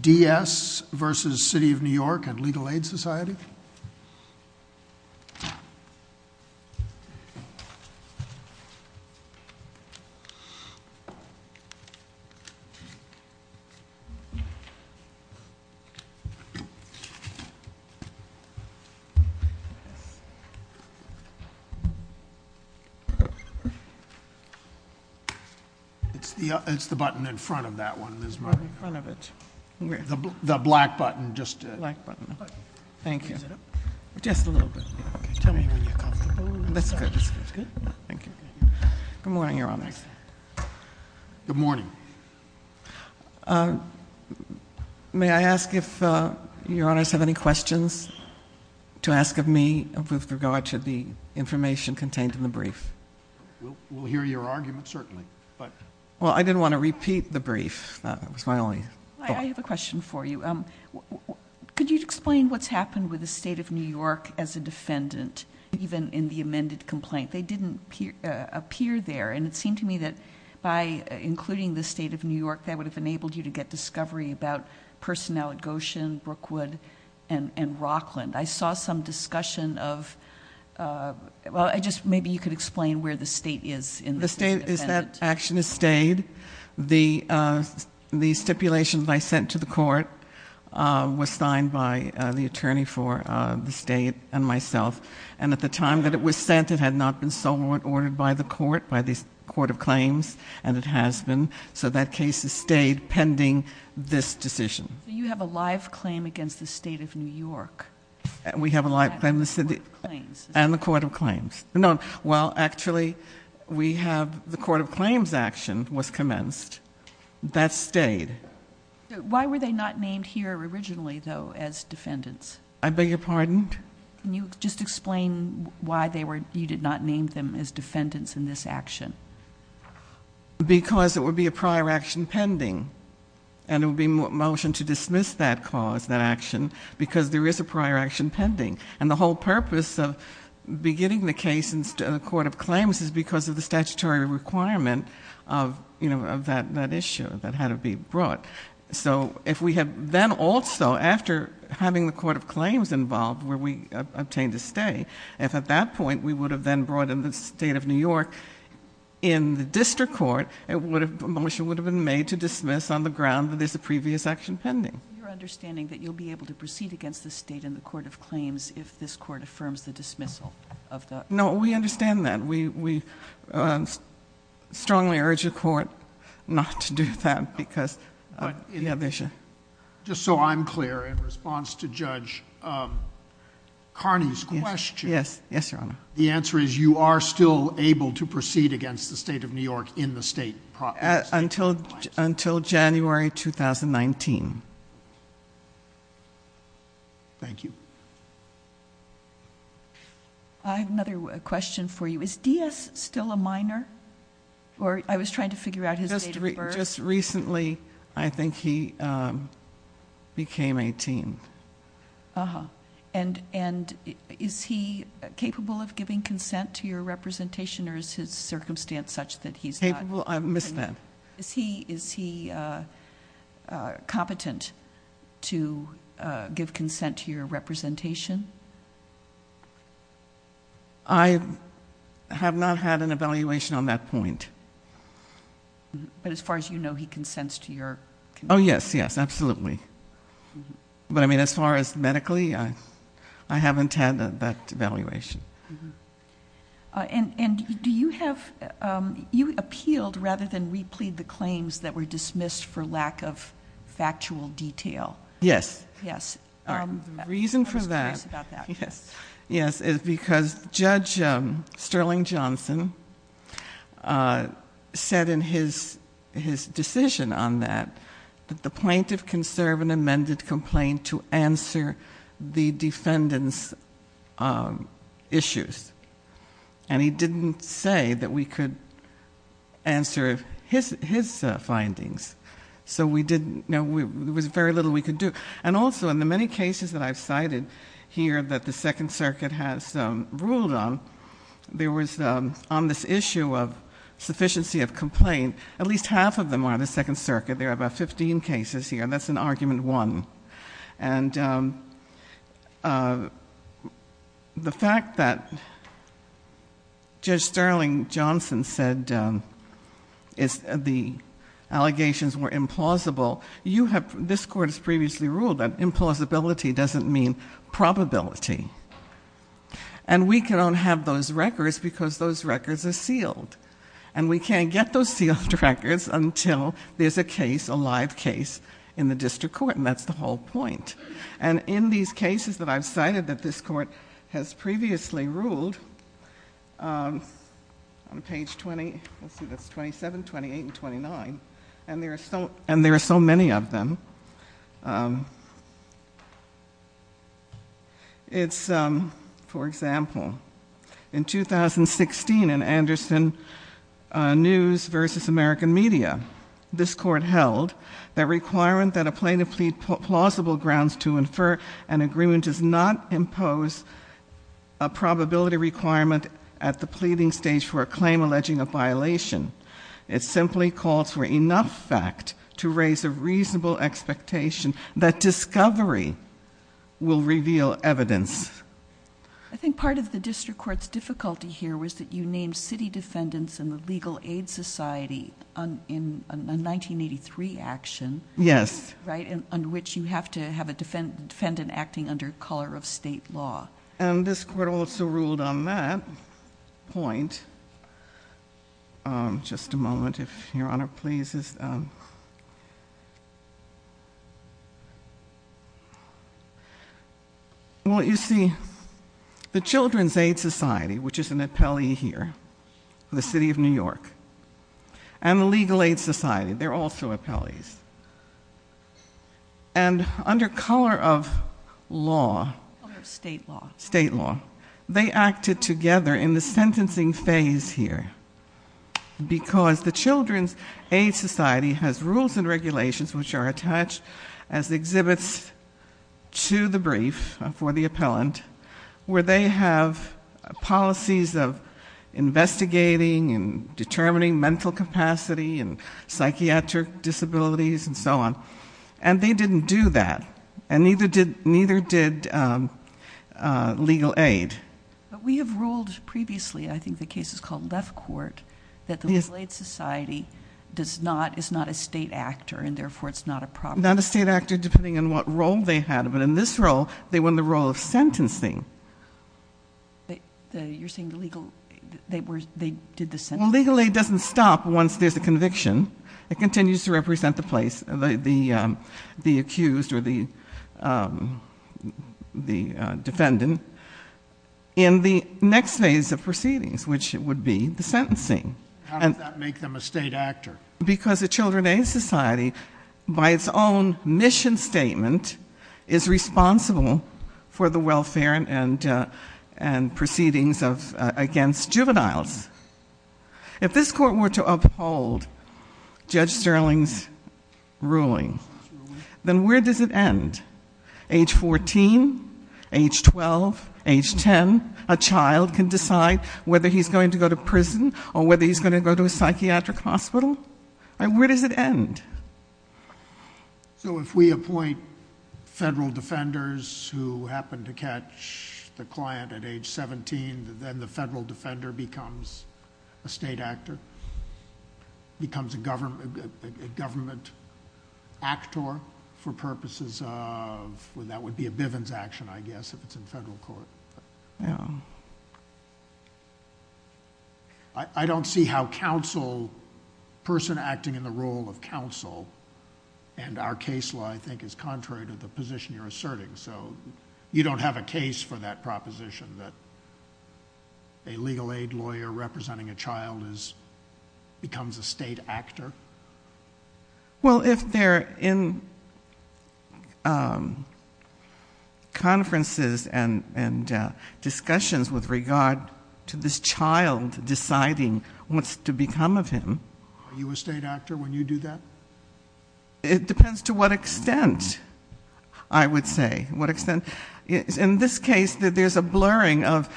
D.S. v. City of New York and Legal Aid Society. It's the button in front of that one, Ms. Murray. In front of it. Where? The black button. Thank you. Is it up? Just a little bit. Okay. Tell me when you're comfortable. That's good. That's good? Yeah. Thank you. Good morning, Your Honors. Good morning. May I ask if Your Honors have any questions to ask of me with regard to the information contained in the brief? We'll hear your argument, certainly, but... Well, I didn't want to repeat the brief. That was my only thought. I have a question for you. Could you explain what's happened with the State of New York as a defendant, even in the amended complaint? They didn't appear there, and it seemed to me that by including the State of New York, that would have enabled you to get discovery about personnel at Goshen, Brookwood, and Rockland. I saw some discussion of... well, I just... maybe you could explain where the State is in this as a defendant. The State is that action is stayed. The stipulation that I sent to the court was signed by the attorney for the State and myself, and at the time that it was sent, it had not been so ordered by the court, by the Court of Claims, and it has been, so that case has stayed pending this decision. You have a live claim against the State of New York? We have a live claim. And the Court of Claims? And the Court of Claims. Well, actually, we have... the Court of Claims action was commenced. That stayed. Why were they not named here originally, though, as defendants? I beg your pardon? Can you just explain why you did not name them as defendants in this action? Because it would be a prior action pending, and it would be a motion to dismiss that cause, that action, because there is a prior action pending, and the whole purpose of beginning the case in the Court of Claims is because of the statutory requirement of that issue that had to be brought. So if we had then also, after having the Court of Claims involved, where we obtained a stay, if at that point we would have then brought in the State of New York in the District Court, a motion would have been made to dismiss on the ground that there is a previous action pending. Is it your understanding that you will be able to proceed against the State in the Court of Claims if this Court affirms the dismissal of the... No, we understand that. We strongly urge the Court not to do that because... Just so I'm clear, in response to Judge Carney's question, the answer is you are still able to proceed against the State of New York in the State proper? Until January 2019. Thank you. I have another question for you. Is Diaz still a minor? Or I was trying to figure out his date of birth. Just recently, I think he became 18. And is he capable of giving consent to your representation, or is his circumstance such that he's not? Capable? I missed that. Is he competent to give consent to your representation? I have not had an evaluation on that point. But as far as you know, he consents to your... Oh, yes. Yes, absolutely. But, I mean, as far as medically, I haven't had that evaluation. And do you have... You appealed rather than replead the claims that were dismissed for lack of factual detail. Yes. The reason for that... I was curious about that. Yes. Yes. Is because Judge Sterling Johnson said in his decision on that, that the plaintiff can serve an amended complaint to answer the defendant's issues. And he didn't say that we could answer his findings. So we didn't... There was very little we could do. And also, in the many cases that I've cited here that the Second Circuit has ruled on, there was, on this issue of sufficiency of complaint, at least half of them are the Second Circuit. There are about 15 cases here, and that's in Argument 1. And the fact that Judge Sterling Johnson said the allegations were implausible, you have... This Court has previously ruled that implausibility doesn't mean probability. And we cannot have those records because those records are sealed. And we can't get those sealed records until there's a case, a live case, in the District Court. And that's the whole point. And in these cases that I've cited that this Court has previously ruled, on page 20... Let's see. That's 27, 28, and 29. And there are so many of them. It's... For example, in 2016, in Anderson News v. American Media, this Court held that requirement that a plaintiff plead plausible grounds to infer an agreement does not impose a probability requirement at the pleading stage for a claim alleging a violation. It simply calls for enough fact to raise a reasonable expectation that discovery will reveal evidence. I think part of the District Court's difficulty here was that you named city defendants in the Legal Aid Society in a 1983 action... Yes. Right? Under which you have to have a defendant acting under color of state law. And this Court also ruled on that point. Just a moment, if Your Honor pleases. Well, you see, the Children's Aid Society, which is an appellee here, the City of New York, and the Legal Aid Society, they're also appellees. And under color of law... Under state law. State law. They acted together in the sentencing phase here. Because the Children's Aid Society has rules and regulations which are attached as exhibits to the brief for the appellant, where they have policies of investigating and determining mental capacity and psychiatric disabilities and so on. And they didn't do that. And neither did Legal Aid. We have ruled previously, I think the case is called Left Court, that the Legal Aid Society is not a state actor, and therefore it's not a proper... Not a state actor, depending on what role they had. But in this role, they won the role of sentencing. You're saying the Legal... they did the sentencing? Well, Legal Aid doesn't stop once there's a conviction. It continues to represent the place, the accused or the defendant, in the next phase of proceedings, which would be the sentencing. How did that make them a state actor? Because the Children's Aid Society, by its own mission statement, is responsible for the welfare and proceedings against juveniles. If this court were to uphold Judge Sterling's ruling, then where does it end? Age fourteen, age twelve, age ten, a child can decide whether he's going to go to prison or whether he's going to go to a psychiatric hospital. Where does it end? So, if we appoint federal defenders who happen to catch the client at age seventeen, then the federal defender becomes a state actor, becomes a government actor for purposes of... that would be a Bivens action, I guess, if it's in federal court. I don't see how counsel, a person acting in the role of counsel, and our case law, I think, is contrary to the position you're asserting. You don't have a case for that proposition, that a legal aid lawyer representing a child becomes a state actor? Well, if they're in conferences and discussions with regard to this child deciding what's to become of him... Are you a state actor when you do that? It depends to what extent, I would say. In this case, there's a blurring of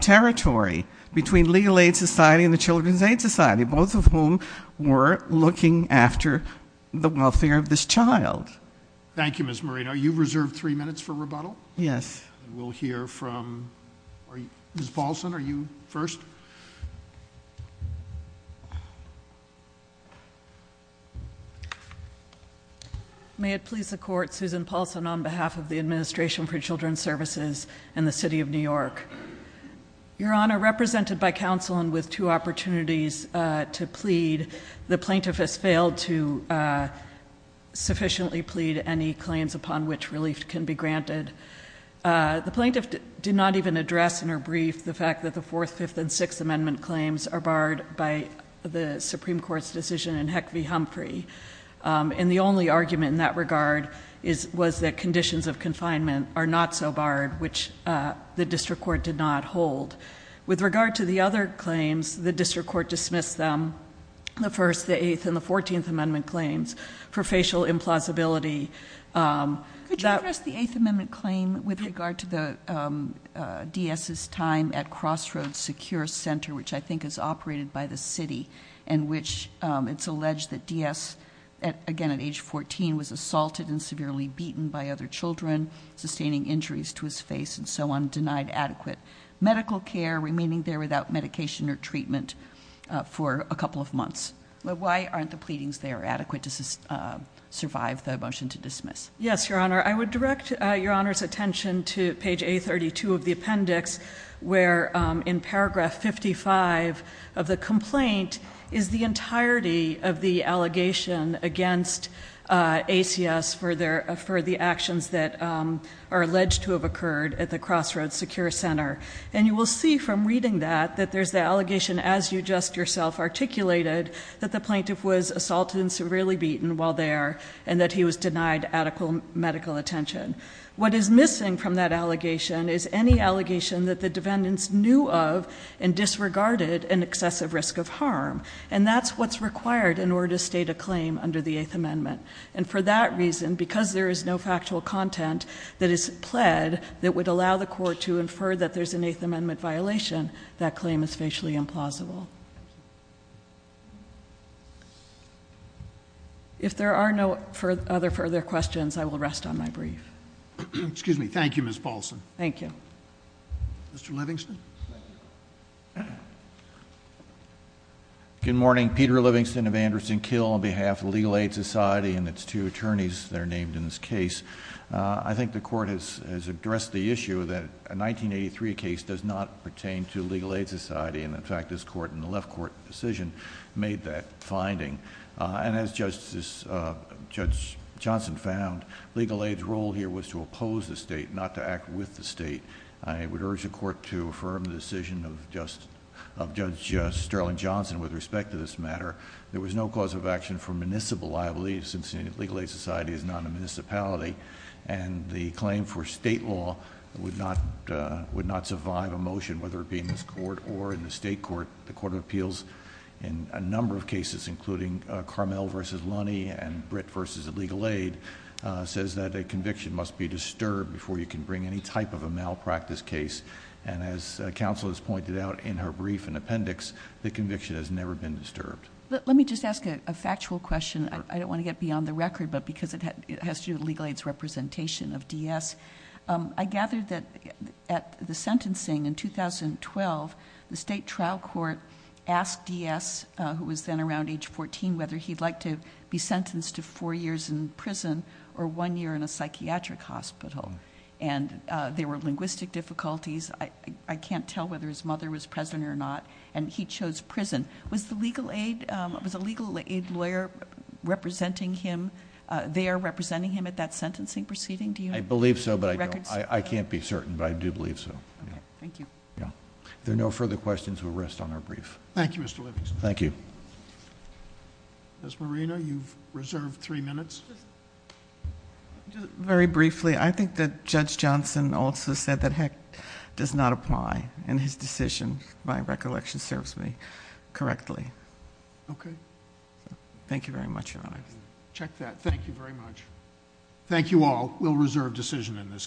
territory between Legal Aid Society and the Children's Aid Society, both of whom were looking after the welfare of this child. Thank you, Ms. Moreno. Are you reserved three minutes for rebuttal? Yes. We'll hear from... Ms. Paulson, are you first? May it please the Court, Susan Paulson on behalf of the Administration for Children's Services and the City of New York. Your Honor, represented by counsel and with two opportunities to plead, the plaintiff has failed to sufficiently plead any claims upon which relief can be granted. The plaintiff did not even address in her brief the fact that the Fourth, Fifth, and Sixth Amendment claims are barred by the Supreme Court's decision in Heck v. Humphrey. And the only argument in that regard was that conditions of confinement are not so barred, which the district court did not hold. With regard to the other claims, the district court dismissed them, the First, the Eighth, and the Fourteenth Amendment claims, for facial implausibility... Could you address the Eighth Amendment claim with regard to the DS's time at Crossroads Secure Center, which I think is operated by the City, in which it's alleged that DS, again at age 14, was assaulted and severely beaten by other children, sustaining injuries to his face and so on, denied adequate medical care, remaining there without medication or treatment for a couple of months. Why aren't the pleadings there adequate to survive the motion to dismiss? Yes, Your Honor. I would direct Your Honor's attention to page A32 of the appendix, where in paragraph 55 of the complaint is the entirety of the allegation against ACS for the actions that are alleged to have occurred at the Crossroads Secure Center. And you will see from reading that that there's the allegation, as you just yourself articulated, that the plaintiff was assaulted and severely beaten while there, and that he was denied adequate medical attention. What is missing from that allegation is any allegation that the defendants knew of and disregarded an excessive risk of harm. And that's what's required in order to state a claim under the Eighth Amendment. And for that reason, because there is no factual content that is pled that would allow the court to infer that there's an Eighth Amendment violation, that claim is facially implausible. If there are no other further questions, I will rest on my brief. Excuse me. Thank you, Ms. Paulson. Thank you. Mr. Livingston? Good morning. Peter Livingston of Anderson Kill on behalf of Legal Aid Society and its two attorneys that are named in this case. I think the court has addressed the issue that a 1983 case does not pertain to Legal Aid Society. And in fact, this court and the left court decision made that finding. And as Judge Johnson found, Legal Aid's role here was to oppose the state, not to act with the state. I would urge the court to affirm the decision of Judge Sterling Johnson with respect to this matter. There was no cause of action for municipal, I believe, since Legal Aid Society is not a municipality. And the claim for state law would not survive a motion, whether it be in this court or in the state court. The Court of Appeals, in a number of cases, including Carmel v. Lunney and Britt v. Legal Aid, says that a conviction must be disturbed before you can bring any type of a malpractice case. And as counsel has pointed out in her brief and appendix, the conviction has never been disturbed. Let me just ask a factual question. I don't want to get beyond the record, but because it has to do with Legal Aid's representation of D.S. I gather that at the sentencing in 2012, the state trial court asked D.S., who was then around age 14, whether he'd like to be sentenced to four years in prison or one year in a psychiatric hospital. And there were linguistic difficulties. I can't tell whether his mother was present or not. And he chose prison. Was the Legal Aid lawyer there representing him at that sentencing proceeding? Do you have records? I believe so, but I don't. I can't be certain, but I do believe so. Okay. Thank you. Yeah. If there are no further questions, we'll rest on our brief. Thank you, Mr. Livingston. Thank you. Ms. Marina, you've reserved three minutes. Just very briefly, I think that Judge Johnson also said that Heck does not apply, and his decision, by recollection, serves me correctly. Okay. Thank you very much, Your Honor. Check that. Thank you very much. Thank you all. We'll reserve decision in this case.